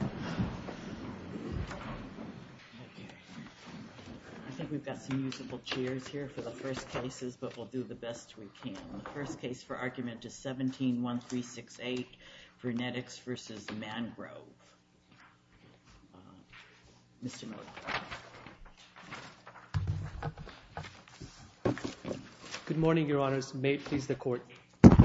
I think we've got some usable chairs here for the first cases, but we'll do the best we can. The first case for argument is 17-1368, VernetX v. Mangrove. Mr. Norquist. Good morning, Your Honors. May it please the Court.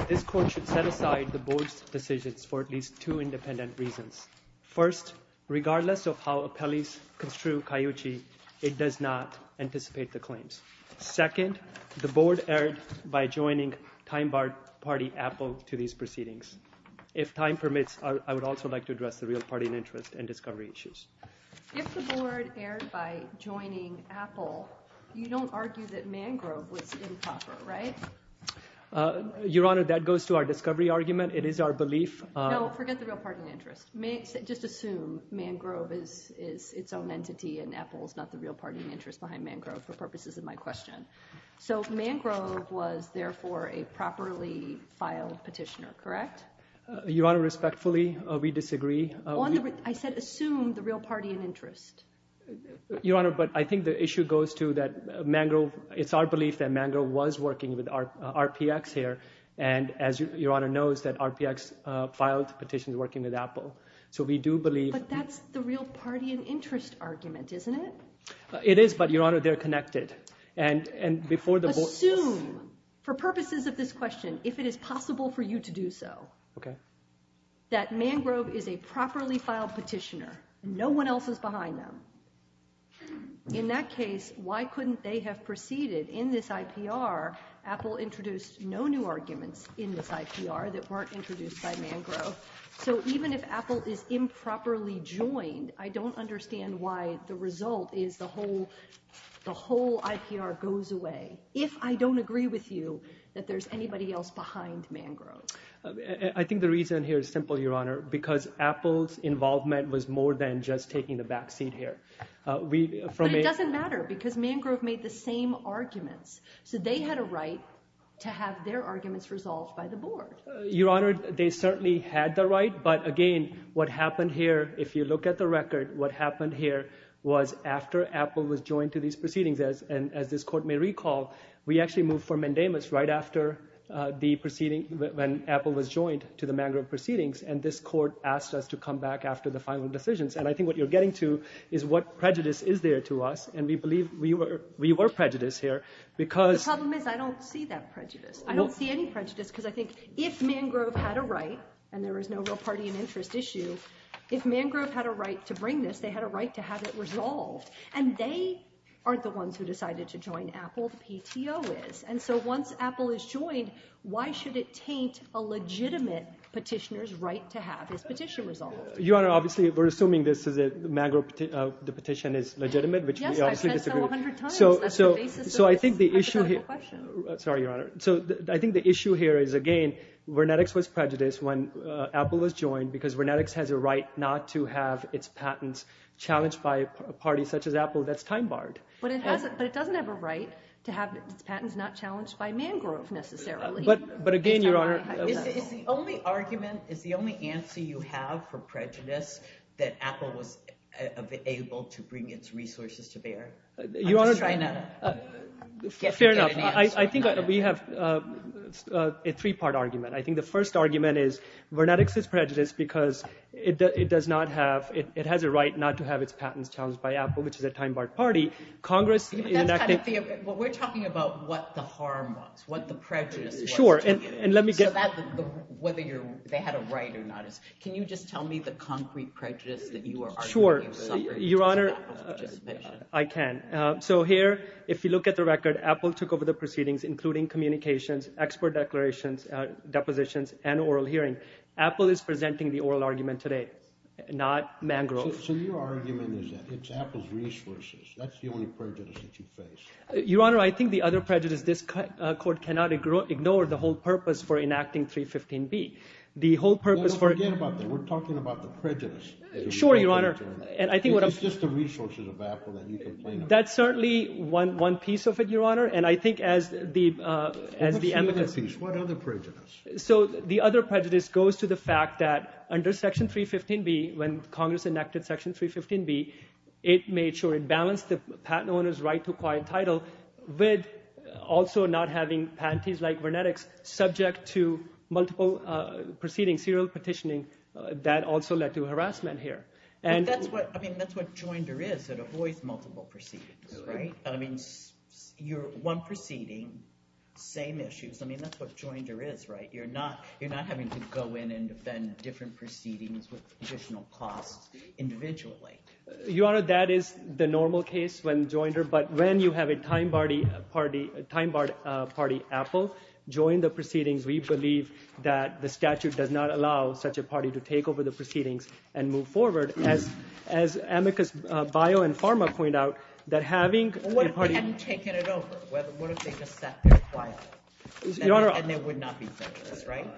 This Court should set aside the Board's decisions for at least two independent reasons. First, regardless of how appellees construe CAYUCCI, it does not anticipate the claims. Second, the Board erred by joining Time Party Apple to these proceedings. If time permits, I would also like to address the real party in interest and discovery issues. If the Board erred by joining Apple, you don't argue that Mangrove was improper, right? Your Honor, that goes to our discovery argument. It is our belief— No, forget the real party in interest. Just assume Mangrove is its own entity and Apple is not the real party in interest behind Mangrove for purposes of my question. So Mangrove was therefore a properly filed petitioner, correct? Your Honor, respectfully, we disagree. I said assume the real party in interest. Your Honor, but I think the issue goes to that Mangrove—it's our belief that Mangrove was working with RPX here, and as Your Honor knows, that RPX filed petitions working with Apple. So we do believe— But that's the real party in interest argument, isn't it? It is, but Your Honor, they're connected. And before the Board— In that case, why couldn't they have proceeded? In this IPR, Apple introduced no new arguments in this IPR that weren't introduced by Mangrove. So even if Apple is improperly joined, I don't understand why the result is the whole IPR goes away, if I don't agree with you that there's anybody else behind Mangrove. I think the reason here is simple, Your Honor, because Apple's involvement was more than just taking the backseat here. But it doesn't matter, because Mangrove made the same arguments. So they had a right to have their arguments resolved by the Board. Your Honor, they certainly had the right, but again, what happened here, if you look at the record, what happened here was after Apple was joined to these proceedings, and as this Court may recall, we actually moved for Mendamus right after the proceeding—when Apple was joined to the Mangrove proceedings, and this Court asked us to come back after the final decisions. And I think what you're getting to is what prejudice is there to us, and we believe we were prejudiced here, because— If Mangrove had a right, and there was no real party and interest issue, if Mangrove had a right to bring this, they had a right to have it resolved. And they aren't the ones who decided to join Apple, the PTO is. And so once Apple is joined, why should it taint a legitimate petitioner's right to have this petition resolved? Your Honor, obviously we're assuming this is a—the petition is legitimate, which we obviously disagree with. Yes, I've said so a hundred times. That's the basis of this hypothetical question. Sorry, Your Honor. So I think the issue here is, again, Vernetix was prejudiced when Apple was joined because Vernetix has a right not to have its patents challenged by a party such as Apple that's time-barred. But it doesn't have a right to have its patents not challenged by Mangrove, necessarily. But again, Your Honor— Is the only argument—is the only answer you have for prejudice that Apple was able to bring its resources to bear? Your Honor— I'm just trying to get an answer. I think we have a three-part argument. I think the first argument is Vernetix is prejudiced because it does not have—it has a right not to have its patents challenged by Apple, which is a time-barred party. Congress— That's kind of the—we're talking about what the harm was, what the prejudice was. Sure, and let me get— So that—whether they had a right or not is—can you just tell me the concrete prejudice that you are arguing— Your Honor, I can. So here, if you look at the record, Apple took over the proceedings, including communications, expert declarations, depositions, and oral hearing. Apple is presenting the oral argument today, not Mangrove. So your argument is that it's Apple's resources. That's the only prejudice that you face. Your Honor, I think the other prejudice, this court cannot ignore the whole purpose for enacting 315B. The whole purpose for— No, no, forget about that. We're talking about the prejudice. Sure, Your Honor, and I think what I'm— It's just the resources of Apple that you complain about. That's certainly one piece of it, Your Honor, and I think as the— What's the other piece? What other prejudice? So the other prejudice goes to the fact that under Section 315B, when Congress enacted Section 315B, it made sure it balanced the patent owner's right to acquire a title with also not having patents like Vernetix subject to multiple proceedings, serial petitioning, that also led to harassment. But that's what—I mean, that's what Joinder is. It avoids multiple proceedings, right? I mean, one proceeding, same issues. I mean, that's what Joinder is, right? You're not having to go in and defend different proceedings with additional costs individually. Your Honor, that is the normal case when Joinder—but when you have a time-barred party, Apple, join the proceedings, we believe that the statute does not allow such a party to take over the proceedings and move forward. As Amicus Bio and Pharma point out, that having— What if they hadn't taken it over? What if they just sat there quietly? Your Honor— And they would not be prejudice, right?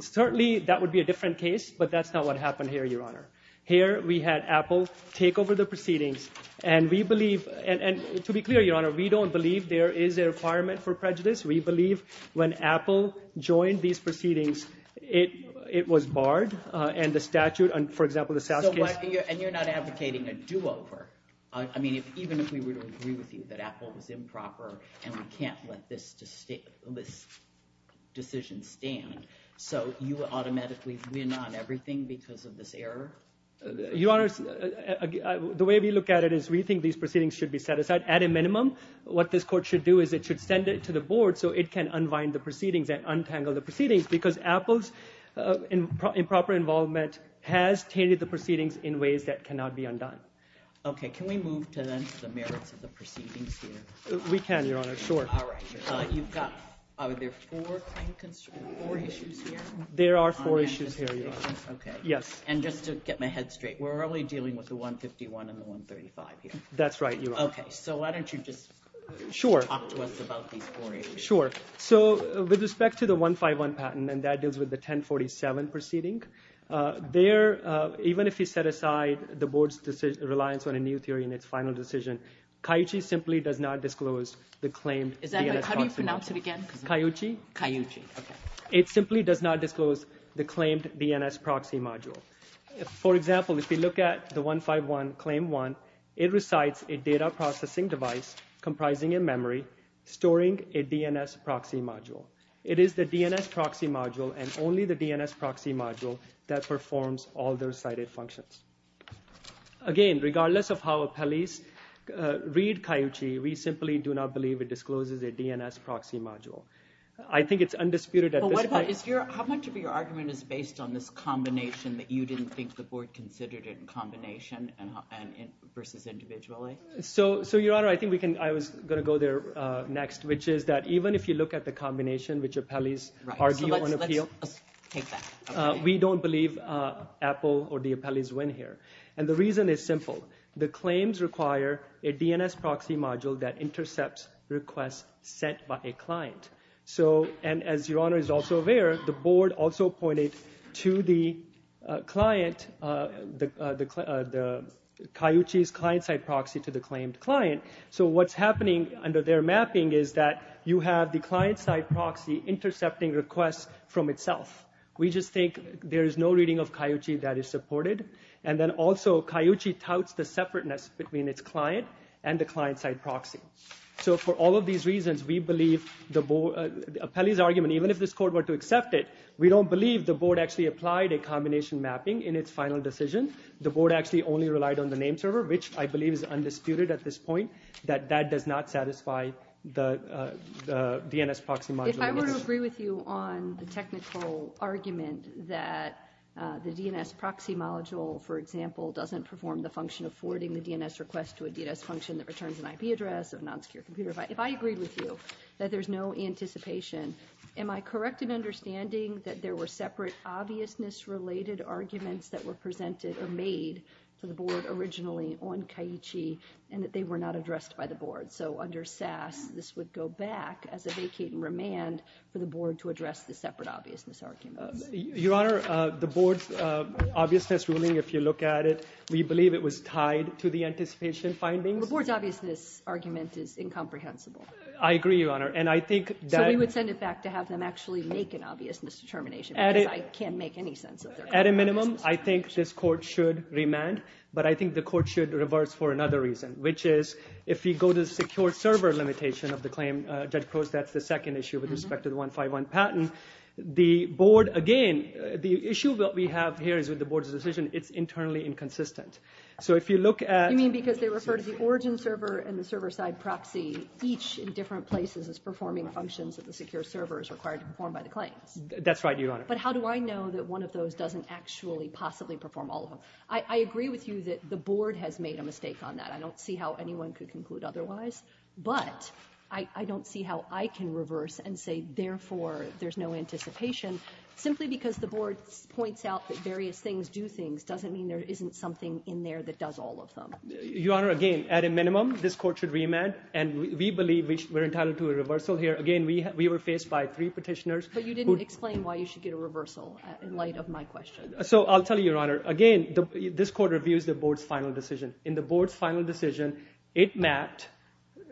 Certainly, that would be a different case, but that's not what happened here, Your Honor. Here we had Apple take over the proceedings, and we believe—and to be clear, Your Honor, we don't believe there is a requirement for prejudice. We believe when Apple joined these proceedings, it was barred, and the statute—for example, the SAS case— So what—and you're not advocating a do-over? I mean, even if we were to agree with you that Apple was improper and we can't let this decision stand, so you would automatically win on everything because of this error? Your Honor, the way we look at it is we think these proceedings should be set aside. At a minimum, what this court should do is it should send it to the board so it can unwind the proceedings and untangle the proceedings because Apple's improper involvement has tainted the proceedings in ways that cannot be undone. Okay, can we move to then the merits of the proceedings here? We can, Your Honor, sure. All right. You've got—are there four issues here? There are four issues here, Your Honor. Okay. Yes. And just to get my head straight, we're only dealing with the 151 and the 135 here? That's right, Your Honor. Okay, so why don't you just talk to us about these four issues? Okay, sure. So with respect to the 151 patent, and that deals with the 1047 proceeding, there—even if you set aside the board's reliance on a new theory in its final decision, CAYUCCI simply does not disclose the claimed DNS proxy module. How do you pronounce it again? CAYUCCI. CAYUCCI, okay. It simply does not disclose the claimed DNS proxy module. For example, if you look at the 151 Claim 1, it recites a data processing device comprising a memory storing a DNS proxy module. It is the DNS proxy module and only the DNS proxy module that performs all the recited functions. Again, regardless of how appellees read CAYUCCI, we simply do not believe it discloses a DNS proxy module. I think it's undisputed at this point— You didn't think the board considered it in combination versus individually? So, Your Honor, I think I was going to go there next, which is that even if you look at the combination which appellees argue on appeal, we don't believe Apple or the appellees win here. And the reason is simple. The claims require a DNS proxy module that intercepts requests sent by a client. And as Your Honor is also aware, the board also appointed CAYUCCI's client-side proxy to the claimed client. So what's happening under their mapping is that you have the client-side proxy intercepting requests from itself. We just think there is no reading of CAYUCCI that is supported. And then also, CAYUCCI touts the separateness between its client and the client-side proxy. So for all of these reasons, we believe the board—appellees' argument, even if this court were to accept it, we don't believe the board actually applied a combination mapping in its final decision. The board actually only relied on the name server, which I believe is undisputed at this point, that that does not satisfy the DNS proxy module. If I were to agree with you on the technical argument that the DNS proxy module, for example, doesn't perform the function of forwarding the DNS request to a DNS function that returns an IP address of a non-secure computer, if I agreed with you that there's no anticipation, am I correct in understanding that there were separate obviousness-related arguments that were presented or made for the board originally on CAYUCCI and that they were not addressed by the board? So under SAS, this would go back as a vacate and remand for the board to address the separate obviousness arguments. Your Honor, the board's obviousness ruling, if you look at it, we believe it was tied to the anticipation findings. The board's obviousness argument is incomprehensible. I agree, Your Honor, and I think that— So we would send it back to have them actually make an obviousness determination because I can't make any sense of their— At a minimum, I think this court should remand, but I think the court should reverse for another reason, which is if we go to the secure server limitation of the claim, Judge Prost, that's the second issue with respect to the 151 patent. The board, again, the issue that we have here is with the board's decision, it's internally inconsistent. So if you look at— You mean because they refer to the origin server and the server-side proxy each in different places as performing functions that the secure server is required to perform by the claims? That's right, Your Honor. But how do I know that one of those doesn't actually possibly perform all of them? I agree with you that the board has made a mistake on that. I don't see how anyone could conclude otherwise, but I don't see how I can reverse and say, therefore, there's no anticipation. Simply because the board points out that various things do things doesn't mean there isn't something in there that does all of them. Your Honor, again, at a minimum, this court should remand, and we believe we're entitled to a reversal here. Again, we were faced by three Petitioners who— So I'll tell you, Your Honor, again, this court reviews the board's final decision. In the board's final decision, it mapped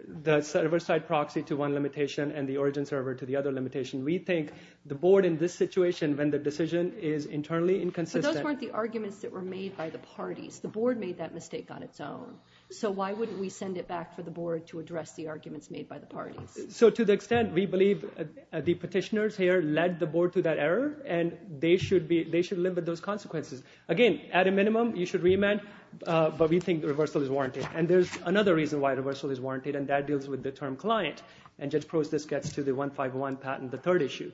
the server-side proxy to one limitation and the origin server to the other limitation. We think the board in this situation, when the decision is internally inconsistent— But those weren't the arguments that were made by the parties. The board made that mistake on its own. So why wouldn't we send it back for the board to address the arguments made by the parties? So to the extent, we believe the Petitioners here led the board to that error, and they should limit those consequences. Again, at a minimum, you should remand, but we think the reversal is warranted. And there's another reason why reversal is warranted, and that deals with the term client. And Judge Prost, this gets to the 151 patent, the third issue.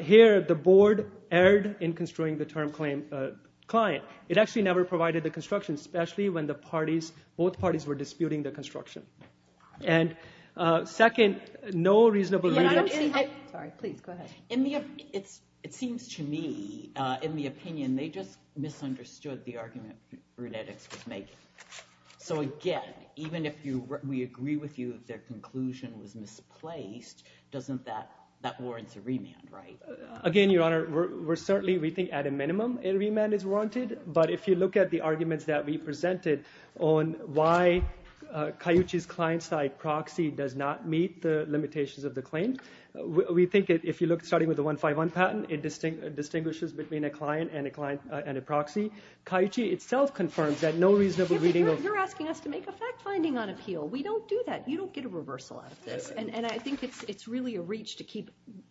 Here, the board erred in construing the term client. It actually never provided the construction, especially when both parties were disputing the construction. And second, no reasonable— Sorry, please, go ahead. It seems to me, in the opinion, they just misunderstood the argument Brunettix was making. So again, even if we agree with you that their conclusion was misplaced, that warrants a remand, right? Again, Your Honor, certainly we think at a minimum, a remand is warranted. But if you look at the arguments that we presented on why Cayuchi's client-side proxy does not meet the limitations of the claim, we think if you look, starting with the 151 patent, it distinguishes between a client and a proxy. Cayuchi itself confirms that no reasonable reading of— You're asking us to make a fact-finding on appeal. We don't do that. You don't get a reversal out of this. And I think it's really a reach to keep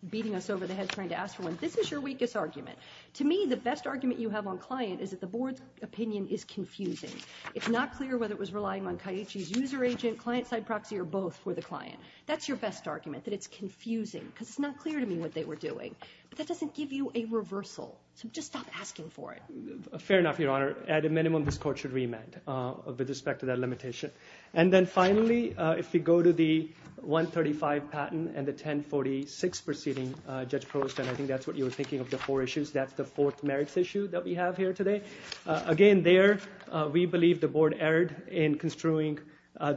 beating us over the head trying to ask for one. This is your weakest argument. To me, the best argument you have on client is that the Board's opinion is confusing. It's not clear whether it was relying on Cayuchi's user agent, client-side proxy, or both for the client. That's your best argument, that it's confusing because it's not clear to me what they were doing. But that doesn't give you a reversal. So just stop asking for it. Fair enough, Your Honor. At a minimum, this Court should remand with respect to that limitation. And then finally, if we go to the 135 patent and the 1046 proceeding, Judge Prost, and I think that's what you were thinking of the four issues. That's the fourth merits issue that we have here today. Again, there, we believe the Board erred in construing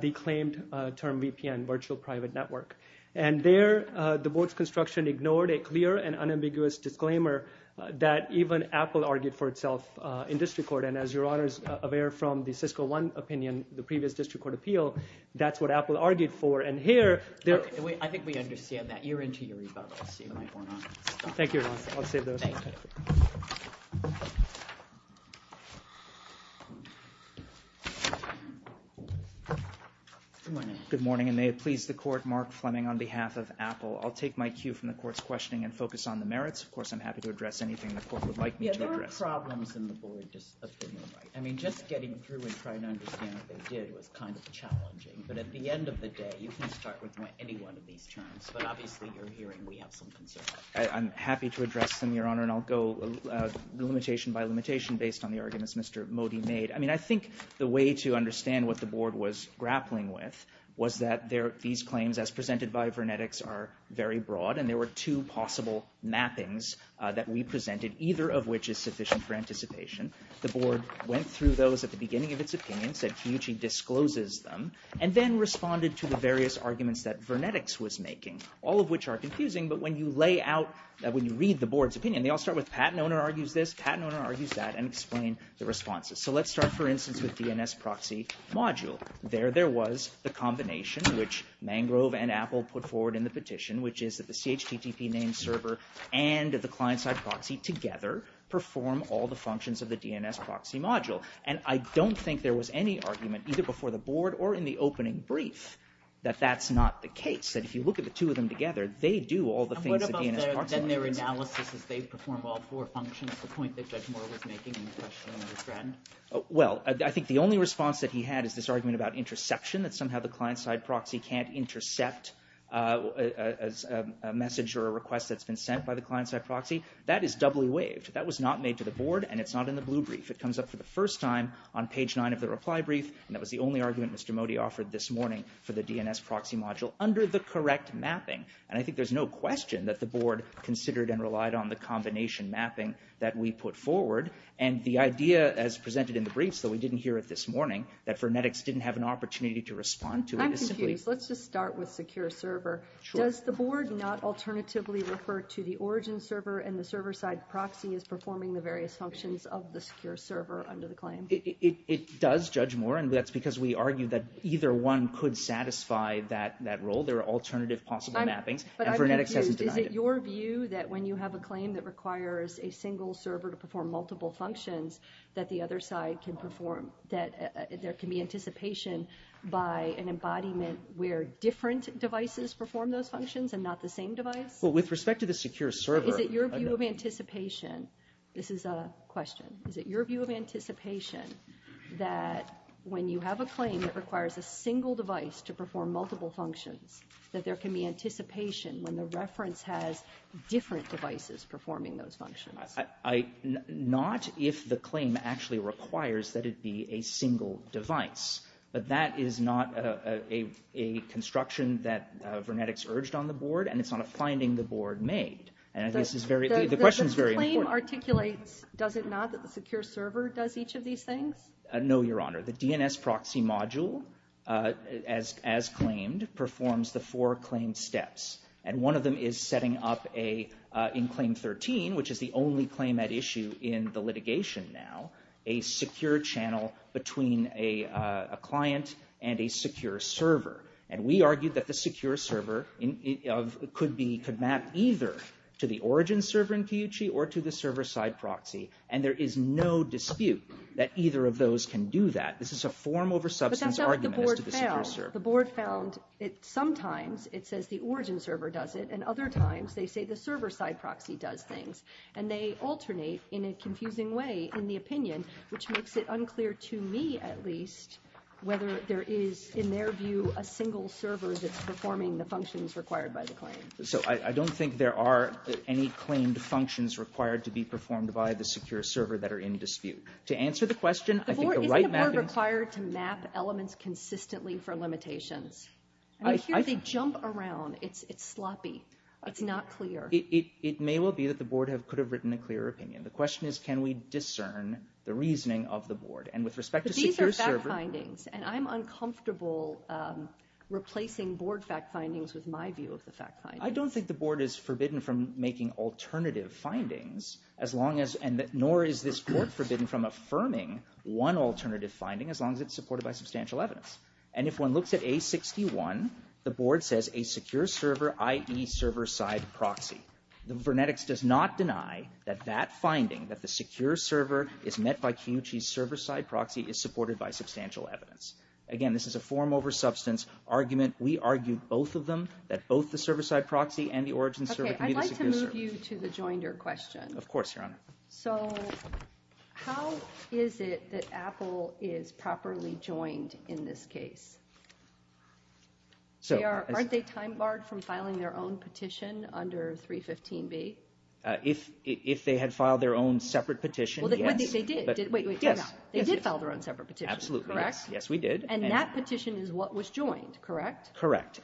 the claimed term VPN, virtual private network. And there, the Board's construction ignored a clear and unambiguous disclaimer that even Apple argued for itself in this record. And as Your Honor is aware from the Cisco One opinion, the previous district court appeal, that's what Apple argued for. And here, there— I think we understand that. You're into your rebuttals. You might want to stop. Thank you, Your Honor. I'll save those. Thank you. Good morning. Good morning, and may it please the Court, Mark Fleming on behalf of Apple. I'll take my cue from the Court's questioning and focus on the merits. Of course, I'm happy to address anything the Court would like me to address. There were problems in the Board's opinion, right? I mean, just getting through and trying to understand what they did was kind of challenging. But at the end of the day, you can start with any one of these terms. But obviously, you're hearing we have some concerns. I'm happy to address them, Your Honor. And I'll go limitation by limitation based on the arguments Mr. Modi made. I mean, I think the way to understand what the Board was grappling with was that these claims, as presented by Vernetics, are very broad. And there were two possible mappings that we presented, either of which is sufficient for anticipation. The Board went through those at the beginning of its opinions, said Kiyoshi discloses them, and then responded to the various arguments that Vernetics was making, all of which are confusing. But when you lay out, when you read the Board's opinion, they all start with Patton owner argues this, Patton owner argues that, and explain the responses. So let's start, for instance, with DNS proxy module. There there was the combination which Mangrove and Apple put forward in the petition, which is that the CHTTP name server and the client-side proxy together perform all the functions of the DNS proxy module. And I don't think there was any argument, either before the Board or in the opening brief, that that's not the case. That if you look at the two of them together, they do all the things that DNS proxy module does. And what about their analysis is they perform all four functions, the point that Judge Moore was making in the question of his friend? Well, I think the only response that he had is this argument about interception, that somehow the client-side proxy can't intercept a message or a request that's been sent by the client-side proxy. That is doubly waived. That was not made to the Board, and it's not in the blue brief. It comes up for the first time on page nine of the reply brief, and that was the only argument Mr. Modi offered this morning for the DNS proxy module under the correct mapping. And I think there's no question that the Board considered and relied on the combination mapping that we put forward. And the idea as presented in the brief, so we didn't hear it this morning, that Fernetics didn't have an opportunity to respond to it. I'm confused. Let's just start with secure server. Does the Board not alternatively refer to the origin server and the server-side proxy as performing the various functions of the secure server under the claim? It does, Judge Moore, and that's because we argue that either one could satisfy that role. There are alternative possible mappings, and Fernetics hasn't denied it. But I'm confused. Is it your view that when you have a claim that requires a single server to perform multiple functions, that the other side can perform, that there can be anticipation by an embodiment where different devices perform those functions and not the same device? Well, with respect to the secure server... Is it your view of anticipation, this is a question, is it your view of anticipation that when you have a claim that requires a single device to perform multiple functions, that there can be anticipation when the reference has different devices performing those functions? Not if the claim actually requires that it be a single device, but that is not a construction that Fernetics urged on the Board, and it's not a finding the Board made. The claim articulates, does it not, that the secure server does each of these things? No, Your Honor. The DNS proxy module, as claimed, performs the four claim steps, and one of them is setting up, in claim 13, which is the only claim at issue in the litigation now, a secure channel between a client and a secure server. And we argued that the secure server could map either to the origin server in Kiyuchi or to the server-side proxy, and there is no dispute that either of those can do that. This is a form over substance argument as to the secure server. But that's not what the Board found. The Board found that sometimes it says the origin server does it, and other times they say the server-side proxy does things, and they alternate in a confusing way in the opinion, which makes it unclear to me, at least, whether there is, in their view, a single server that's performing the functions required by the claim. So I don't think there are any claimed functions required to be performed by the secure server that are in dispute. To answer the question, I think the right mapping... Isn't the Board required to map elements consistently for limitations? I hear they jump around. It's sloppy. It's not clear. It may well be that the Board could have written a clearer opinion. The question is, can we discern the reasoning of the Board? And with respect to secure server... But these are fact findings, and I'm uncomfortable replacing Board fact findings with my view of the fact findings. I don't think the Board is forbidden from making alternative findings, nor is this Court forbidden from affirming one alternative finding as long as it's supported by substantial evidence. And if one looks at A61, the Board says, a secure server, i.e. server-side proxy. The Vernetics does not deny that that finding, that the secure server is met by Kiyuchi's server-side proxy, is supported by substantial evidence. Again, this is a form over substance argument. We argue, both of them, that both the server-side proxy and the origin server can be the secure server. Okay, I'd like to move you to the joinder question. Of course, Your Honor. So, how is it that Apple is properly joined in this case? Aren't they time-barred from filing their own petition under 315B? If they had filed their own separate petition, yes. They did. Wait, wait. Yes. They did file their own separate petition, correct? Absolutely, yes. Yes, we did. And that petition is what was joined, correct? Correct.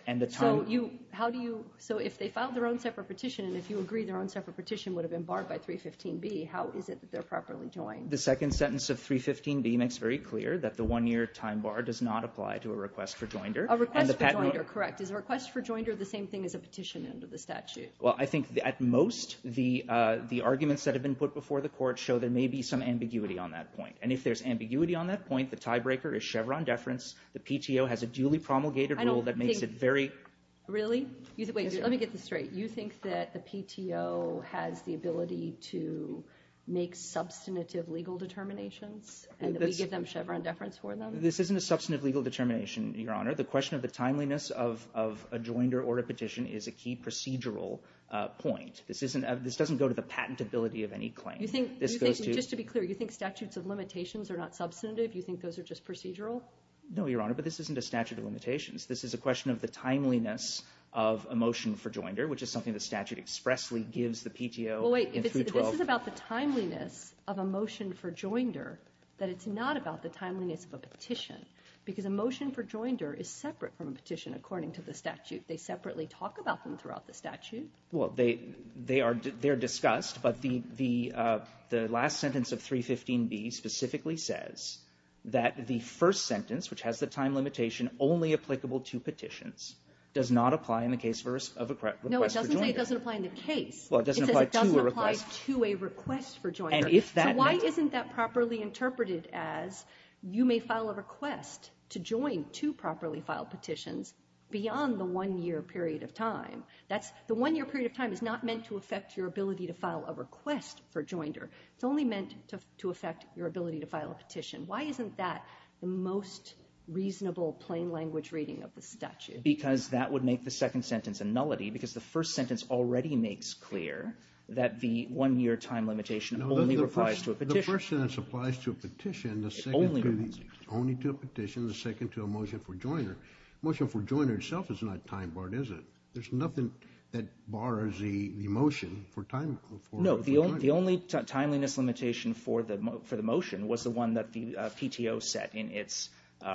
So, if they filed their own separate petition, and if you agree their own separate petition would have been barred by 315B, how is it that they're properly joined? The second sentence of 315B makes very clear that the one-year time bar does not apply to a request for joinder. A request for joinder, correct. Is a request for joinder the same thing as a petition under the statute? Well, I think, at most, the arguments that have been put before the Court show there may be some ambiguity on that point. And if there's ambiguity on that point, the tiebreaker is Chevron deference. The PTO has a duly promulgated rule that makes it very... Really? Wait, let me get this straight. You think that the PTO has the ability to make substantive legal determinations, and that we give them Chevron deference for them? This isn't a substantive legal determination, Your Honor. The question of the timeliness of a joinder or a petition is a key procedural point. This doesn't go to the patentability of any claim. You think, just to be clear, you think statutes of limitations are not substantive? You think those are just procedural? No, Your Honor, but this isn't a statute of limitations. This is a question of the timeliness of a motion for joinder, which is something the statute expressly gives the PTO... Well, wait. If this is about the timeliness of a motion for joinder, then it's not about the timeliness of a petition, because a motion for joinder is separate from a petition, according to the statute. They separately talk about them throughout the statute. Well, they are discussed, but the last sentence of 315B specifically says that the first sentence, which has the time limitation only applicable to petitions, does not apply in the case of a request for joinder. No, it doesn't say it doesn't apply in the case. Well, it doesn't apply to a request. It says it doesn't apply to a request for joinder. And if that meant... So why isn't that properly interpreted as you may file a request to join two properly filed petitions beyond the one-year period of time? The one-year period of time is not meant to affect your ability to file a request for joinder. It's only meant to affect your ability to file a petition. Why isn't that the most reasonable plain-language reading of the statute? Because that would make the second sentence a nullity because the first sentence already makes clear that the one-year time limitation only applies to a petition. The first sentence applies to a petition, the second to a motion for joinder. Motion for joinder itself is not time-barred, is it? There's nothing that bars the motion for joinder. No, the only timeliness limitation for the motion was the one that the PTO set in its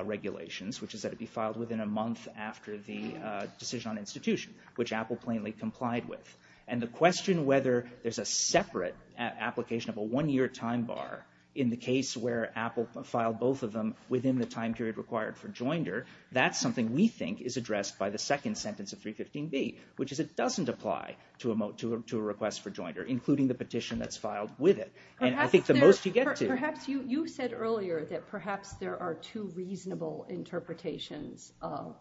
regulations, which is that it be filed within a month after the decision on institution, which Apple plainly complied with. And the question whether there's a separate application of a one-year time bar in the case where Apple filed both of them within the time period required for joinder, that's something we think is addressed by the second sentence of 315B, which is it doesn't apply to a request for joinder, including the petition that's filed with it. And I think the most you get to... Perhaps you said earlier that perhaps there are two reasonable interpretations of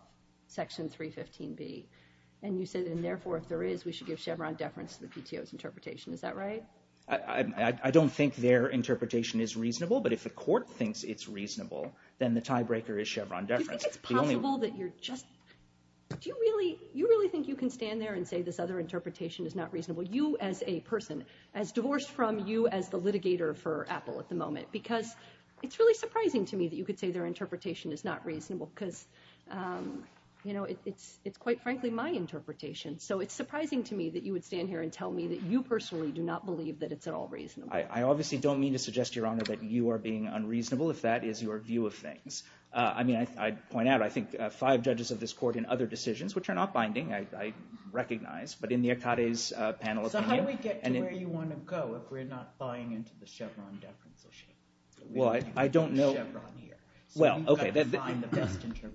Section 315B. And you said, and therefore, if there is, we should give Chevron deference to the PTO's interpretation. Is that right? I don't think their interpretation is reasonable, but if the court thinks it's reasonable, then the tiebreaker is Chevron deference. Do you think it's possible that you're just... Do you really think you can stand there and say this other interpretation is not reasonable, you as a person, as divorced from you as the litigator for Apple at the moment? Because it's really surprising to me that you could say their interpretation is not reasonable because, you know, it's quite frankly my interpretation. So it's surprising to me that you would stand here and tell me that you personally do not believe that it's at all reasonable. I obviously don't mean to suggest, Your Honor, that you are being unreasonable if that is your view of things. I mean, I'd point out, I think, five judges of this court in other decisions, which are not binding, I recognize, but in the Akade's panel opinion... So how do we get to where you want to go if we're not buying into the Chevron deference? Well, I don't know... Well, okay,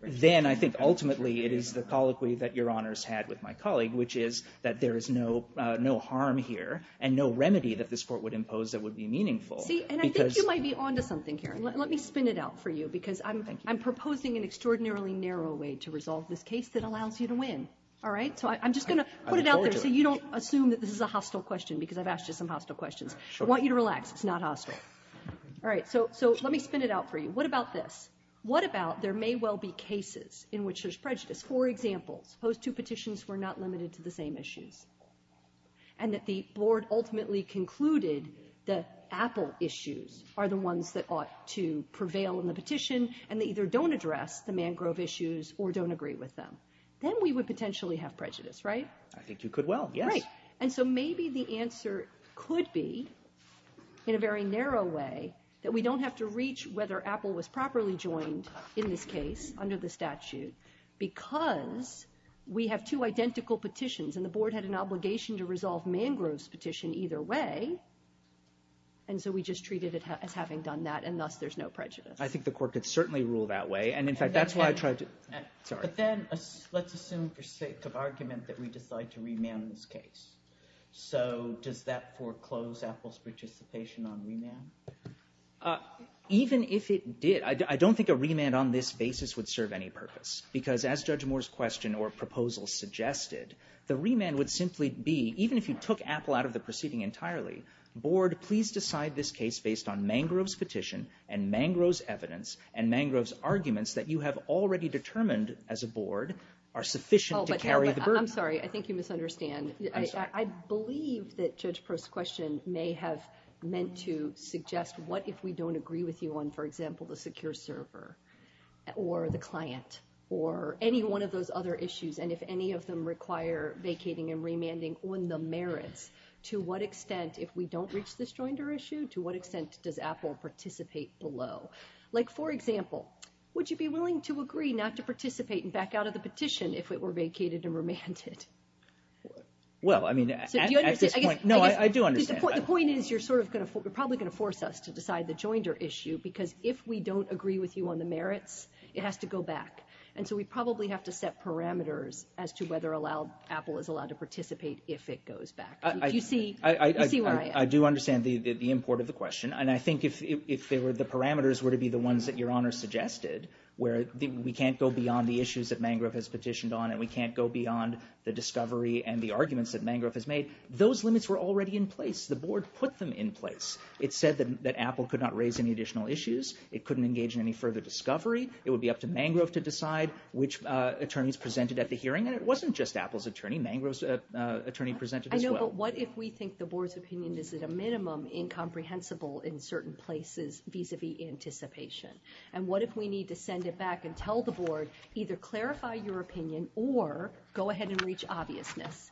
then I think ultimately it is the colloquy that Your Honor's had with my colleague, which is that there is no harm here and no remedy that this court would impose that would be meaningful. See, and I think you might be on to something here. Let me spin it out for you, because I'm proposing an extraordinarily narrow way to resolve this case that allows you to win. All right? So I'm just going to put it out there so you don't assume that this is a hostile question because I've asked you some hostile questions. I want you to relax. It's not hostile. All right, so let me spin it out for you. What about this? What about there may well be cases in which there's prejudice? For example, suppose two petitions were not limited to the same issues and that the board ultimately concluded that Apple issues are the ones that ought to prevail in the petition and they either don't address the Mangrove issues or don't agree with them. Then we would potentially have prejudice, right? I think you could well, yes. Right, and so maybe the answer could be in a very narrow way that we don't have to reach whether Apple was properly joined in this case under the statute because we have two identical petitions and the board had an obligation to resolve Mangrove's petition either way and so we just treated it as having done that and thus there's no prejudice. I think the court could certainly rule that way and in fact that's why I tried to... Sorry. But then let's assume for sake of argument that we decide to remand this case. So does that foreclose Apple's participation on remand? Even if it did, I don't think a remand on this basis would serve any purpose because as Judge Moore's question or proposal suggested, the remand would simply be, even if you took Apple out of the proceeding entirely, board, please decide this case based on Mangrove's petition and Mangrove's evidence and Mangrove's arguments that you have already determined as a board are sufficient to carry the burden. I'm sorry. I think you misunderstand. I believe that Judge Prost's question may have meant to suggest what if we don't agree with you on, for example, the secure server or the client or any one of those other issues and if any of them require vacating and remanding on the merits, to what extent, if we don't reach this joinder issue, to what extent does Apple participate below? Like for example, would you be willing to agree not to participate and back out of the petition if it were vacated and remanded? Well, I mean, at this point... Do you understand? No, I do understand. The point is you're probably going to force us to decide the joinder issue because if we don't agree with you on the merits, it has to go back and so we probably have to set parameters as to whether Apple is allowed to participate if it goes back. Do you see where I am? I do understand the import of the question and I think if the parameters were to be the ones that Your Honor suggested where we can't go beyond the issues that Mangrove has petitioned on and we can't go beyond the discovery and the arguments that Mangrove has made, those limits were already in place. The board put them in place. It said that Apple could not raise any additional issues. It couldn't engage in any further discovery. It would be up to Mangrove to decide which attorneys presented at the hearing and it wasn't just Apple's attorney. Mangrove's attorney presented as well. I know, but what if we think the board's opinion is at a minimum incomprehensible in certain places vis-a-vis anticipation and what if we need to send it back and tell the board either clarify your opinion or go ahead and reach obviousness?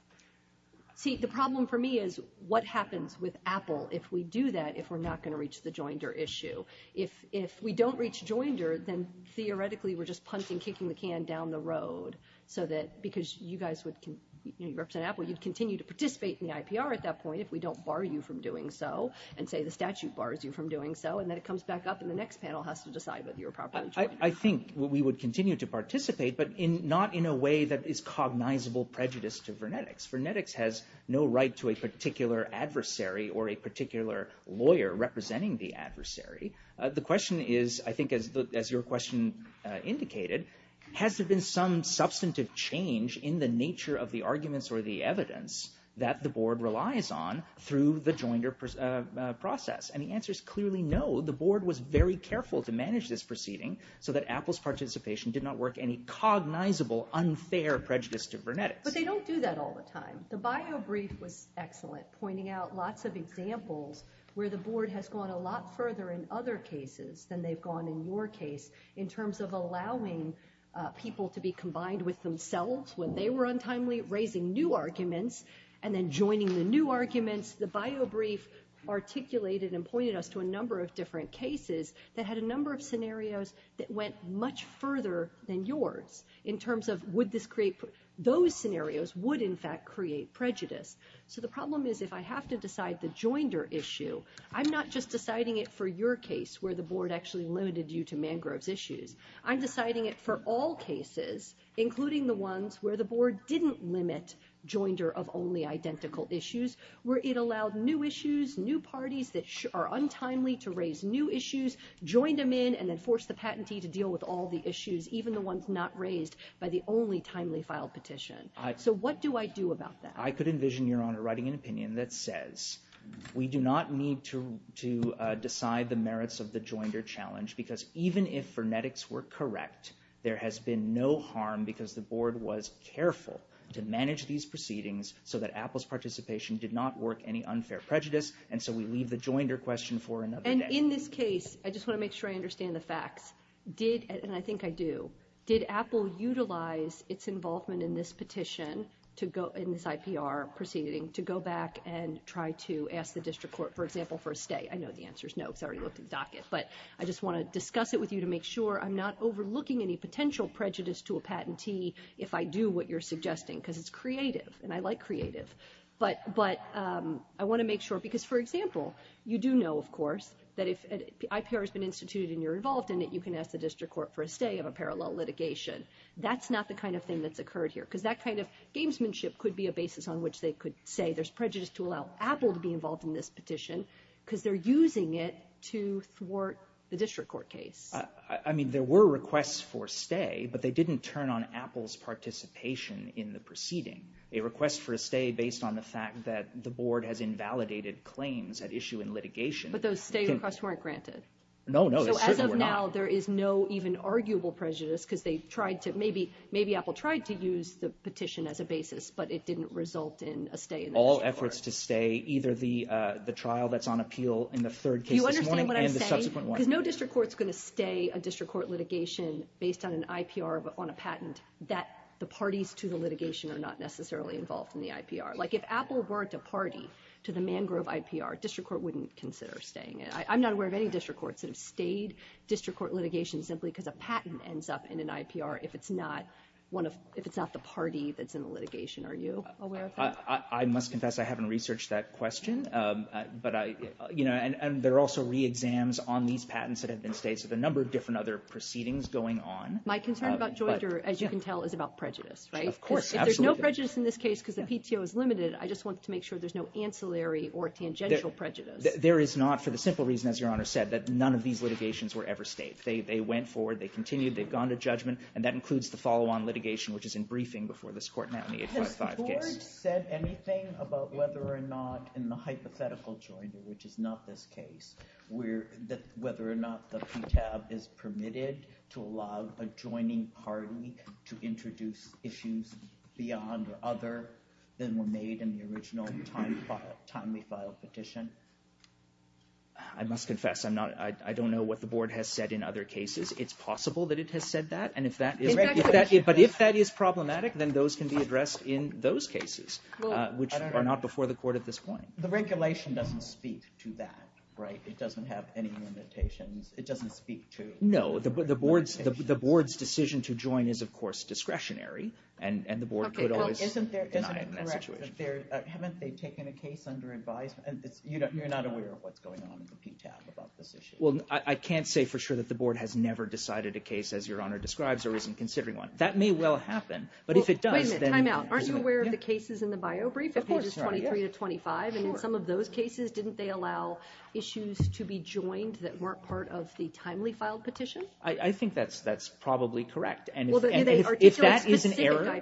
See, the problem for me is what happens with Apple if we do that, if we're not going to reach the Joinder issue? If we don't reach Joinder, then theoretically we're just punting, kicking the can down the road so that because you guys would, you represent Apple, you'd continue to participate in the IPR at that point if we don't bar you from doing so and say the statute bars you from doing so and then it comes back up and the next panel has to decide whether you're a proponent or not. I think we would continue to participate but not in a way that is cognizable prejudice to Vernetics. Vernetics has no right to a particular adversary or a particular lawyer representing the adversary. The question is, I think as your question indicated, has there been some substantive change in the nature of the arguments or the evidence that the board relies on through the Joinder process? And the answer is clearly no. The board was very careful to manage this proceeding so that Apple's participation did not work any cognizable unfair prejudice to Vernetics. But they don't do that all the time. The bio brief was excellent, pointing out lots of examples where the board has gone a lot further in other cases than they've gone in your case in terms of allowing people to be combined with themselves when they were untimely raising new arguments and then joining the new arguments. The bio brief articulated and pointed us to a number of different cases that had a number of scenarios that went much further than yours in terms of would this create, those scenarios would in fact create prejudice. So the problem is if I have to decide the Joinder issue, I'm not just deciding it for your case where the board actually limited you to Mangrove's issues. I'm deciding it for all cases, including the ones where the board didn't limit Joinder of only identical issues, where it allowed new issues, new parties that are untimely to raise new issues, joined them in and then forced the patentee to deal with all the issues, even the ones not raised by the only timely filed petition. So what do I do about that? I could envision, Your Honor, writing an opinion that says we do not need to decide the merits of the Joinder challenge because even if Vernetics were correct, there has been no harm because the board was careful to manage these proceedings so that Apple's participation did not work any unfair prejudice, and so we leave the Joinder question for another day. And in this case, I just want to make sure I understand the facts. Did, and I think I do, did Apple utilize its involvement in this petition, in this IPR proceeding, to go back and try to ask the district court, for example, for a stay? I know the answer is no because I already looked at the docket, but I just want to discuss it with you to make sure I'm not overlooking any potential prejudice to a patentee if I do what you're suggesting because it's creative and I like creative, but I want to make sure, because for example, you do know, of course, that if IPR has been instituted and you're involved in it, you can ask the district court for a stay of a parallel litigation. That's not the kind of thing that's occurred here because that kind of gamesmanship could be a basis on which they could say there's prejudice to allow Apple to be involved in this petition because they're using it to thwart the district court case. I mean, there were requests for stay, but they didn't turn on Apple's participation in the proceeding. A request for a stay based on the fact that the board has invalidated claims at issue in litigation. But those stay requests weren't granted. No, no, they certainly were not. So as of now, there is no even arguable prejudice because they tried to, maybe Apple tried to use the petition as a basis, but it didn't result in a stay in the case. All efforts to stay either the trial that's on appeal in the third case this morning and the subsequent one. Do you understand what I'm saying? Because no district court's going to stay a district court litigation based on an IPR on a patent that the parties to the litigation are not necessarily involved in the IPR. Like if Apple weren't a party to the Mangrove IPR, district court wouldn't consider staying it. I'm not aware of any district courts that have stayed district court litigation simply because a patent ends up in an IPR if it's not one of, if it's not the party that's in the litigation. Are you aware of that? I must confess, I haven't researched that question. But I, you know, and there are also re-exams on these patents that have been stayed. So the number of different other proceedings going on. My concern about Joyter, as you can tell, is about prejudice, right? Of course, absolutely. If there's no prejudice in this case because the PTO is limited, I just want to make sure there's no ancillary or tangential prejudice. There is not, for the simple reason, as your Honor said, that none of these litigations were ever stayed. They went forward, they continued, they've gone to judgment, and that includes the follow-on litigation which is in briefing before this court now in the 855 case. Has the court said anything about whether or not in the hypothetical Joyter, which is not this case, whether or not the PTAB is permitted to allow a joining party to introduce issues beyond or other than were made in the original timely filed petition? I must confess, I don't know what the board has said in other cases. It's possible that it has said that, but if that is problematic, then those can be addressed in those cases, which are not before the court at this point. The regulation doesn't speak to that, right? It doesn't have any limitations. It doesn't speak to... No, the board's decision to join is, of course, discretionary, and the board could always deny it in that situation. Haven't they taken a case under advisement? You're not aware of what's going on in the PTAB about this issue? I can't say for sure that the board has never decided a case as Your Honor describes or isn't considering one. That may well happen, but if it does, then... Wait a minute, time out. Aren't you aware of the cases in the bio brief of pages 23 to 25? In some of those cases, didn't they allow issues to be joined that weren't part of the timely filed petition? I think that's probably correct, and if that is an error,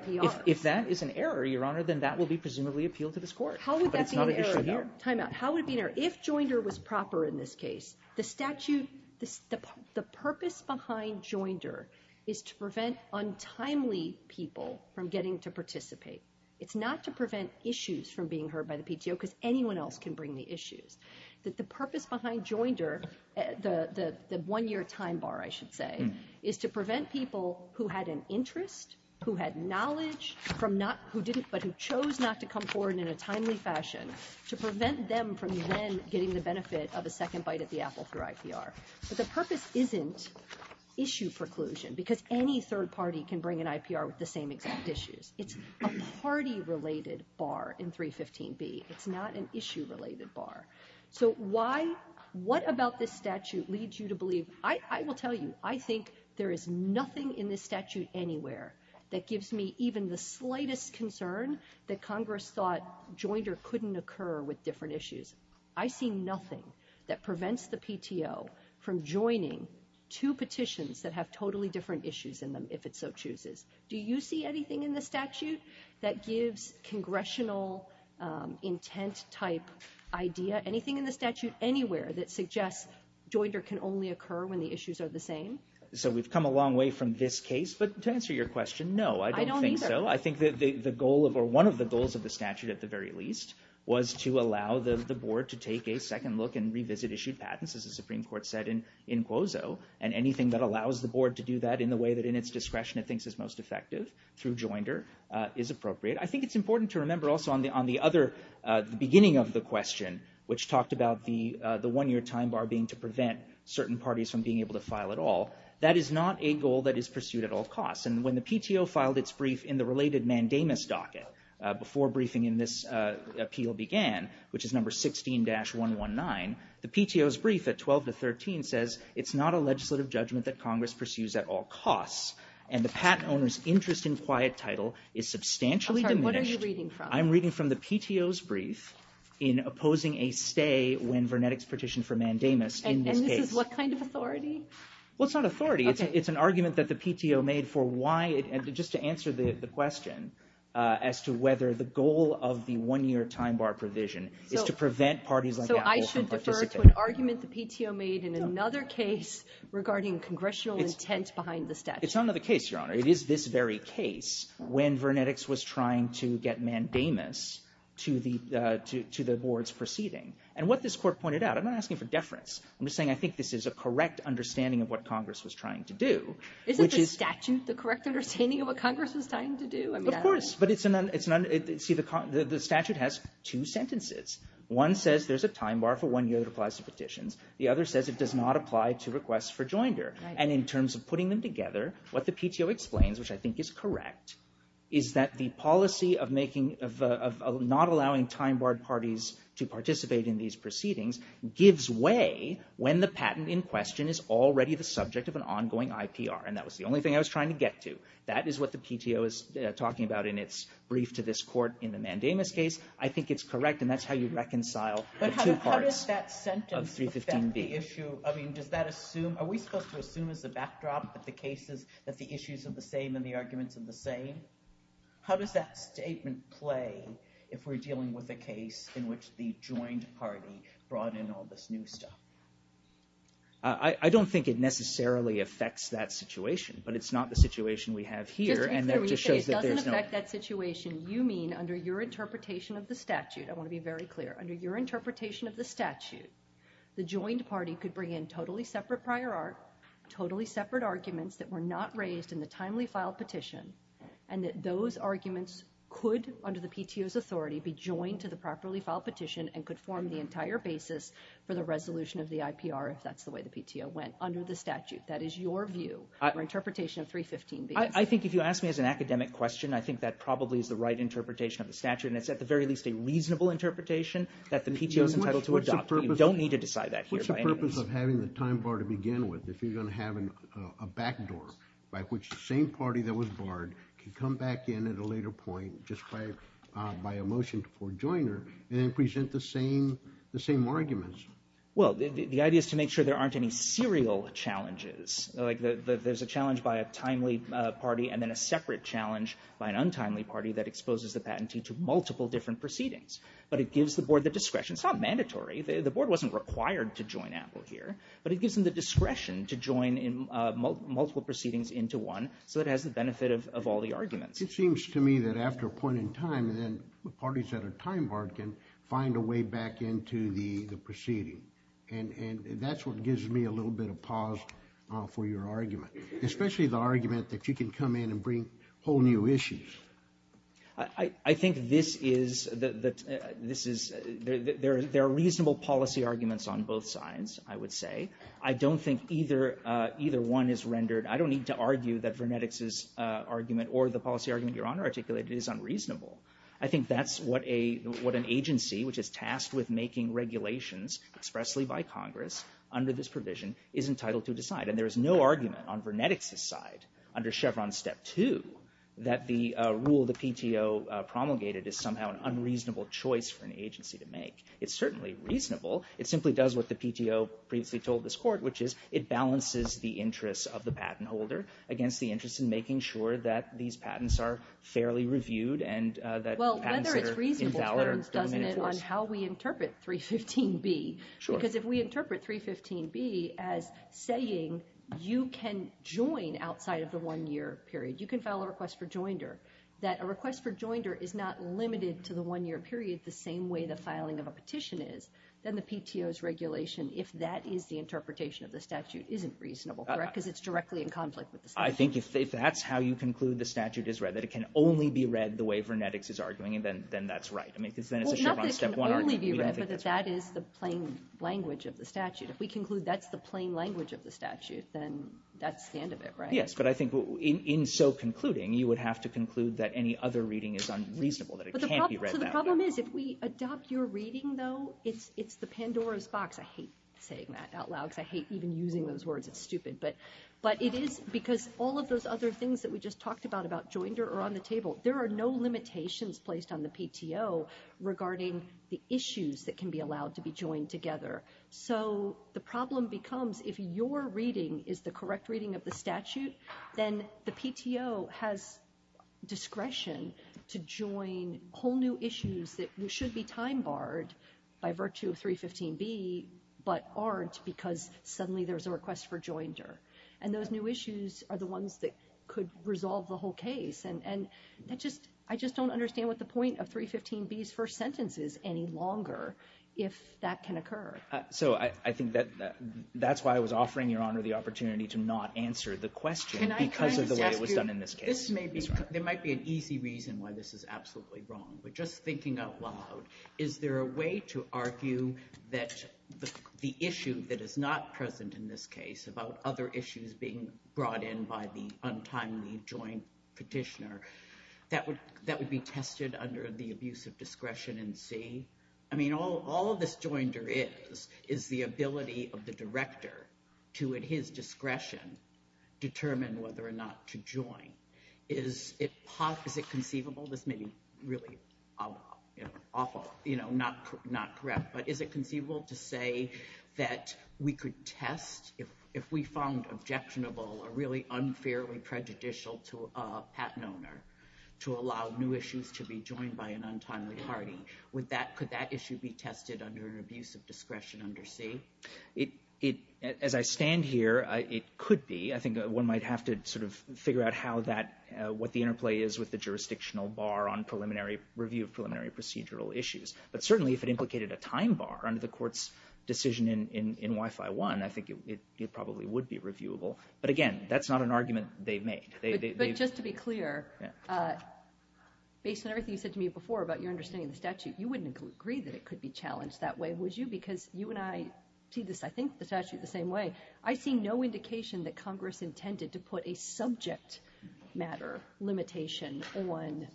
if that is an error, Your Honor, then that will be presumably appealed to this court, but it's not an issue here. How would that be an error? Time out. How would it be an error? If JOINDER was proper in this case, the purpose behind JOINDER is to prevent untimely people from getting to participate. It's not to prevent issues from being heard by the PTO because anyone else can bring the issues. The purpose behind JOINDER, the one-year time bar, I should say, is to prevent people who had an interest, who had knowledge, but who chose not to come forward in a timely fashion, to prevent them from then getting the benefit of a second bite at the apple through IPR. But the purpose isn't issue preclusion because any third party can bring an IPR with the same exact issues. It's a party-related bar in 315B. It's not an issue-related bar. So what about this statute leads you to believe... I will tell you, I think there is nothing in this statute anywhere that gives me even the slightest concern that Congress thought JOINDER couldn't occur with different issues. I see nothing that prevents the PTO from joining two petitions that have totally different issues in them, if it so chooses. Do you see anything in the statute that gives congressional intent-type idea, anything in the statute anywhere that suggests JOINDER can only occur when the issues are the same? So we've come a long way from this case, but to answer your question, no, I don't think so. I don't either. I think one of the goals of the statute, at the very least, was to allow the board to take a second look and revisit issued patents, as the Supreme Court said in Quozo, and anything that allows the board to do that in the way that in its discretion it thinks is most effective through JOINDER, is appropriate. I think it's important to remember also on the other beginning of the question, which talked about the one-year time bar being to prevent certain parties from being able to file at all, that is not a goal that is pursued at all costs, and when the PTO filed its brief in the related mandamus docket before briefing in this appeal began, which is number 16-119, the PTO's brief at 12-13 says, it's not a legislative judgment that Congress pursues at all costs, and the patent owner's interest in quiet title is substantially diminished. I'm sorry, what are you reading from? I'm reading from the PTO's brief in opposing a stay when Vernetik's petition for mandamus in this case. And this is what kind of authority? Well, it's not authority. It's an argument that the PTO made for why, and just to answer the question, as to whether the goal of the one-year time bar provision is to prevent parties like Apple from participating. So I should defer to an argument the PTO made in another case regarding congressional intent behind the statute. It's not another case, Your Honor. It is this very case when Vernetik's was trying to get mandamus to the board's proceeding. And what this court pointed out, I'm not asking for deference. I'm just saying I think this is a correct understanding of what Congress was trying to do. Isn't the statute the correct understanding of what Congress was trying to do? Of course, but it's not... See, the statute has two sentences. One says there's a time bar for one year that applies to petitions. The other says it does not apply to requests for joinder. And in terms of putting them together, what the PTO explains, which I think is correct, is that the policy of making, of not allowing time-barred parties to participate in these proceedings gives way when the patent in question is already the subject of an ongoing IPR. And that was the only thing I was trying to get to. That is what the PTO is talking about in its brief to this court in the mandamus case. I think it's correct, and that's how you reconcile the two parts... But how does that sentence affect the issue? I mean, does that assume... Are we supposed to assume as a backdrop that the cases, that the issues are the same and the arguments are the same? How does that statement play if we're dealing with a case in which the joined party brought in all this new stuff? I don't think it necessarily affects that situation, but it's not the situation we have here, and that just shows that there's no... Just to be clear, when you say it doesn't affect that situation, you mean under your interpretation of the statute. I want to be very clear. Under your interpretation of the statute, the joined party could bring in totally separate arguments that were not raised in the timely file petition, and that those arguments could, under the PTO's authority, be joined to the properly filed petition and could form the entire basis for the resolution of the IPR, if that's the way the PTO went under the statute. That is your view, your interpretation of 315b. I think if you ask me as an academic question, I think that probably is the right interpretation of the statute, and it's at the very least a reasonable interpretation that the PTO's entitled to adopt. You don't need to decide that here by any means. In terms of having the time bar to begin with, if you're going to have a backdoor by which the same party that was barred could come back in at a later point just by a motion to poor joiner and then present the same arguments. Well, the idea is to make sure there aren't any serial challenges. There's a challenge by a timely party and then a separate challenge by an untimely party that exposes the patentee to multiple different proceedings, but it gives the board the discretion. It's not mandatory. The board wasn't required to join Apple here, but it gives them the discretion to join multiple proceedings into one so it has the benefit of all the arguments. It seems to me that after a point in time, then the parties that are time barred can find a way back into the proceeding, and that's what gives me a little bit of pause for your argument, especially the argument that you can come in and bring whole new issues. I think this is... There are reasonable policy arguments on both sides, I would say. I don't think either one is rendered... I don't need to argue that Vernetics' argument or the policy argument Your Honor articulated is unreasonable. I think that's what an agency which is tasked with making regulations expressly by Congress under this provision is entitled to decide, and there is no argument on Vernetics' side under Chevron Step 2 that the rule the PTO promulgated is somehow an unreasonable choice for an agency to make. It's certainly reasonable. It simply does what the PTO previously told this Court, which is it balances the interests of the patent holder against the interest in making sure that these patents are fairly reviewed and that patents that are invalid are permitted to us. Well, whether it's reasonable depends, doesn't it, on how we interpret 315B. Because if we interpret 315B as saying you can join outside of the one-year period, you can file a request for joinder, that a request for joinder is not limited to the one-year period, the same way the filing of a petition is, then the PTO's regulation, if that is the interpretation of the statute, isn't reasonable, correct? Because it's directly in conflict with the statute. I think if that's how you conclude the statute is read, that it can only be read the way Vernetics is arguing, then that's right. I mean, because then it's a Chevron Step 1 argument. Well, not that it can only be read, but that that is the plain language of the statute. If we conclude that's the plain language of the statute, then that's the end of it, right? Yes, but I think in so concluding, you would have to conclude that any other reading is unreasonable, that it can't be read that way. So the problem is, if we adopt your reading, though, it's the Pandora's box. I hate saying that out loud, because I hate even using those words. It's stupid, but it is because all of those other things that we just talked about, about joinder or on the table, there are no limitations placed on the PTO regarding the issues that can be allowed to be joined together. So the problem becomes, if your reading is the correct reading of the statute, then the PTO has discretion to join whole new issues that should be time barred by virtue of 315B, but aren't because suddenly there's a request for joinder. And those new issues are the ones that could resolve the whole case. And I just don't understand what the point of 315B's first sentence is any longer, if that can occur. So I think that that's why I was offering Your Honor the opportunity to not answer the question because of the way it was done in this case. There might be an easy reason why this is absolutely wrong, but just thinking out loud, is there a way to argue that the issue that is not present in this case about other issues being brought in by the untimely joint petitioner that would be tested under the abuse of discretion in C? I mean, all this joinder is is the ability of the director to at his discretion determine whether or not to join. Is it conceivable, this may be really awful, you know, not correct, but is it conceivable to say that we could test if we found objectionable or really unfairly prejudicial to a patent owner to allow new issues to be joined by an untimely party? Could that issue be tested under an abuse of discretion under C? As I stand here, it could be. I think one might have to sort of look at what the interplay is with the jurisdictional bar on preliminary review of preliminary procedural issues. But certainly if it implicated a time bar under the court's decision in WIFI 1, I think it probably would be reviewable. But again, that's not an argument they made. But just to be clear, based on everything you said to me before about your understanding of the statute, you wouldn't agree that it could be challenged that way, would you? Because you and I see this, I think, the statute the same way. I see no indication that Congress intended to put a subject matter limitation on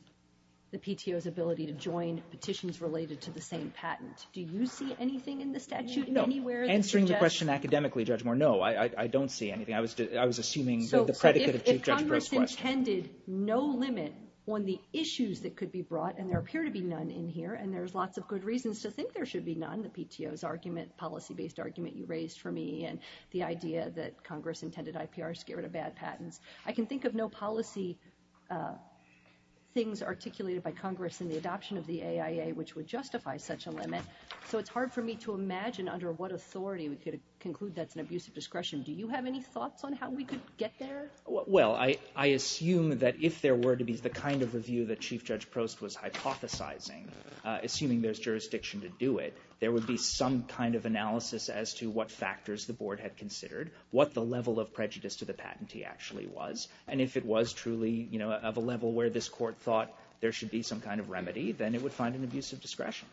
the PTO's ability to join petitions related to the same patent. Do you see anything in the statute anywhere that suggests... No. Answering the question academically, Judge Moore, no. I don't see anything. I was assuming that the predicate of Chief Judge Bristow... So if Congress intended no limit on the issues that could be brought, and there appear to be none in here, and there's lots of good reasons to think there should be none, the PTO's argument, policy-based argument you raised for me, and the idea that Congress intended IPR is scared of bad patents, I can think of no policy things articulated by Congress in the adoption of the AIA which would justify such a limit, so it's hard for me to imagine under what authority we could conclude that's an abusive discretion. Do you have any thoughts on how we could get there? Well, I assume that if there were to be the kind of review that Chief Judge Prost was hypothesizing, assuming there's jurisdiction to do it, there would be some kind of analysis as to what factors the board had considered, what the level of prejudice to the patentee actually was, and if it was truly of a level where this court thought there should be some kind of remedy, then it would find an abusive discretion.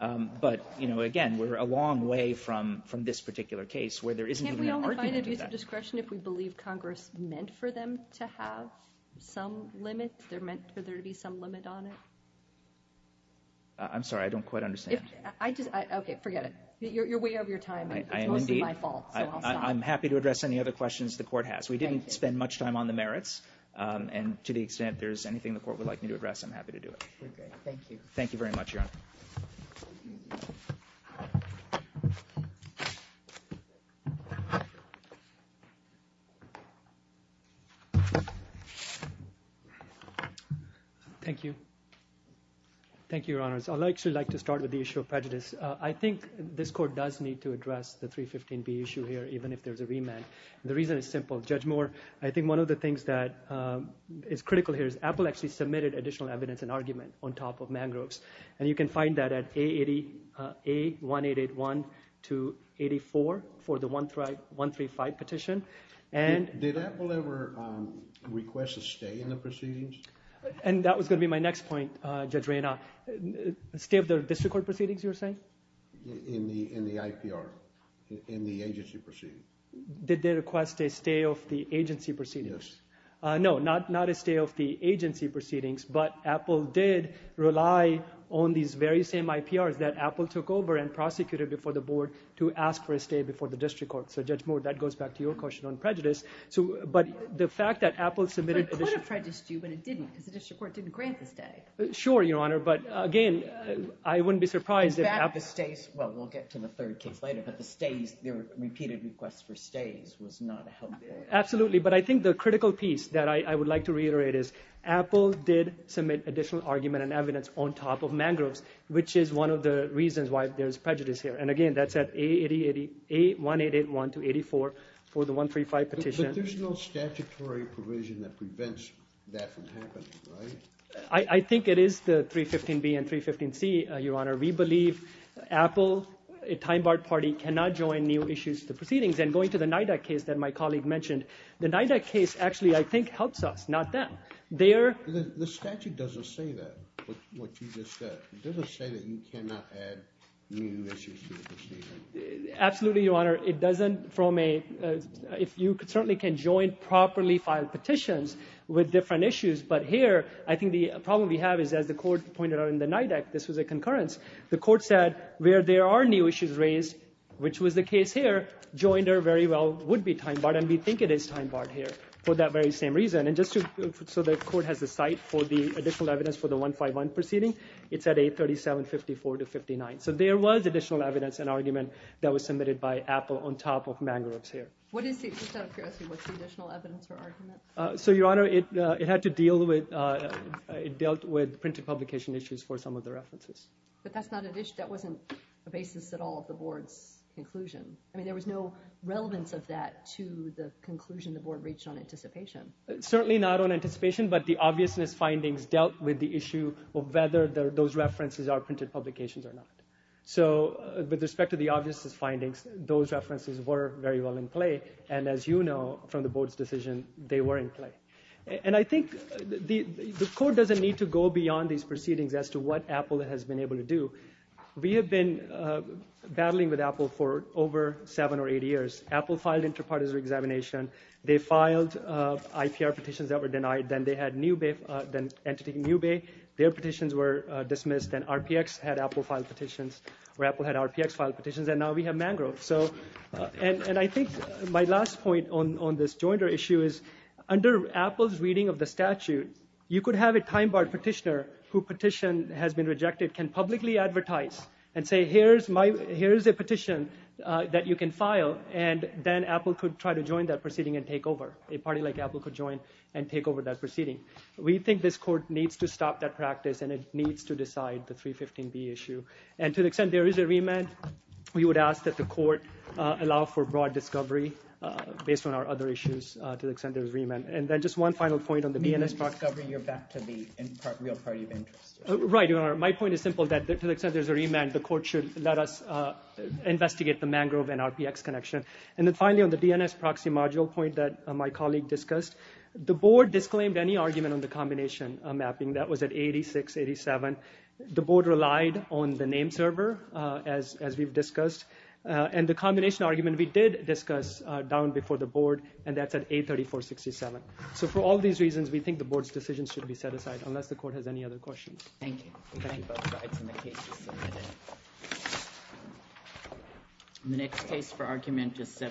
But again, we're a long way from this particular case where there isn't even an argument of that. Can't we only find an abusive discretion if we believe Congress meant for them to have some limit? They're meant for there to be some limit on it? I'm sorry, I don't quite understand. Okay, forget it. You're way over your time, and it's mostly my fault, so I'll stop. I'm happy to address any other questions the court has. We didn't spend much time on the merits, and to the extent there's anything the court would like me to address, I'm happy to do it. Okay, thank you. Thank you very much, Your Honor. Thank you. Thank you, Your Honors. I'd actually like to start with the issue of prejudice. I think this court does need to address the 315B issue here, even if there's a remand. The reason is simple. Judge Moore, I think one of the things that is critical here is Apple actually submitted additional evidence and argument on top of Mangrove's, and you can find that at A1881-84 for the 135 petition. Did Apple ever request a stay in the proceedings? And that was going to be my next point, Judge Reyna. Stay of the district court proceedings, you were saying? In the IPR. In the agency proceedings. Did they request a stay of the agency proceedings? Yes. No, not a stay of the agency proceedings, but Apple did rely on these very same IPRs that Apple took over and prosecuted before the board to ask for a stay before the district court. So, Judge Moore, that goes back to your question on prejudice, but the fact that Apple submitted... But it could have prejudiced you, but it didn't, because the district court didn't grant the stay. Sure, Your Honor, but again, I wouldn't be surprised if Apple... Well, we'll get to the third case later, but the stays, the repeated requests for stays was not helpful. Absolutely, but I think the critical piece that I would like to reiterate is Apple did submit additional argument and evidence on top of Mangrove's, which is one of the reasons why there's prejudice here. And again, that's at A1881-84 for the 135 petition. But there's no statutory provision that prevents that from happening, right? I think it is the 315B and 315C, Your Honor. We believe Apple a time-barred party cannot join new issues to the proceedings. And going to the NIDAC case that my colleague mentioned, the NIDAC case actually, I think, helps us, not them. The statute doesn't say that, what you just said. It doesn't say that you cannot add new issues to the proceedings. Absolutely, Your Honor. It doesn't from a... You certainly can join properly filed petitions with different issues, but here, I think the problem we have is as the court pointed out in the NIDAC, this was a concurrence. The court said where there are new issues raised, which was the case here, Joiner very well would be time-barred and we think it is time-barred here for that very same reason. And just to... So the court has a site for the additional evidence for the 151 proceeding. It's at 837-54-59. So there was additional evidence and argument that was submitted by Apple on top of Mangarup's here. What is the... Just out of curiosity, what's the additional evidence or argument? So, Your Honor, it had to deal with... It dealt with printed publication issues for some of the references. But that's not an issue... That wasn't the basis at all of the board's conclusion. I mean, there was no relevance of that to the conclusion the board reached on anticipation. Certainly not on anticipation, but the obviousness findings dealt with the issue of whether those references are printed publications or not. So with respect to the obviousness findings, those references were very well in play. And as you know from the board's decision, they were in play. And I think the court doesn't need to go beyond these proceedings as to what Apple has been able to do. We have been battling with Apple for over seven or eight years. Apple filed interpartisan examination. They filed IPR petitions that were denied. Then they had entity NewBay. Their petitions were dismissed and RPX had Apple file petitions, where Apple had RPX file petitions, and now we have Mangarup. And I think my last point on this jointer issue is under Apple's reading of the statute, you could have a time-barred petitioner who petition has been rejected can publicly advertise and say here's a petition that you can file and then Apple could try to join that proceeding and take over. A party like Apple could join and take over that proceeding. We think this court needs to stop that practice and it needs to decide the 315B issue. And to the extent there is a remand, we would ask that the court allow for broad discovery based on our other issues to the extent there is remand. And then just one final point on the DNS box. You're back to the real party of interest. Right. My point is simple that to the extent there is a remand, the court should let us investigate the Mangarup and RPX connection. And then finally, on the DNS proxy module point that my colleague discussed, the board disclaimed any argument on the combination mapping that was at 86-87. The board relied on the name server as we've discussed. And the combination argument we did discuss down before the board and that's at 834-67. So for all these reasons, we think the board's decisions should be set aside unless the court has any other questions. Thank you. Thank you both sides and the case is submitted.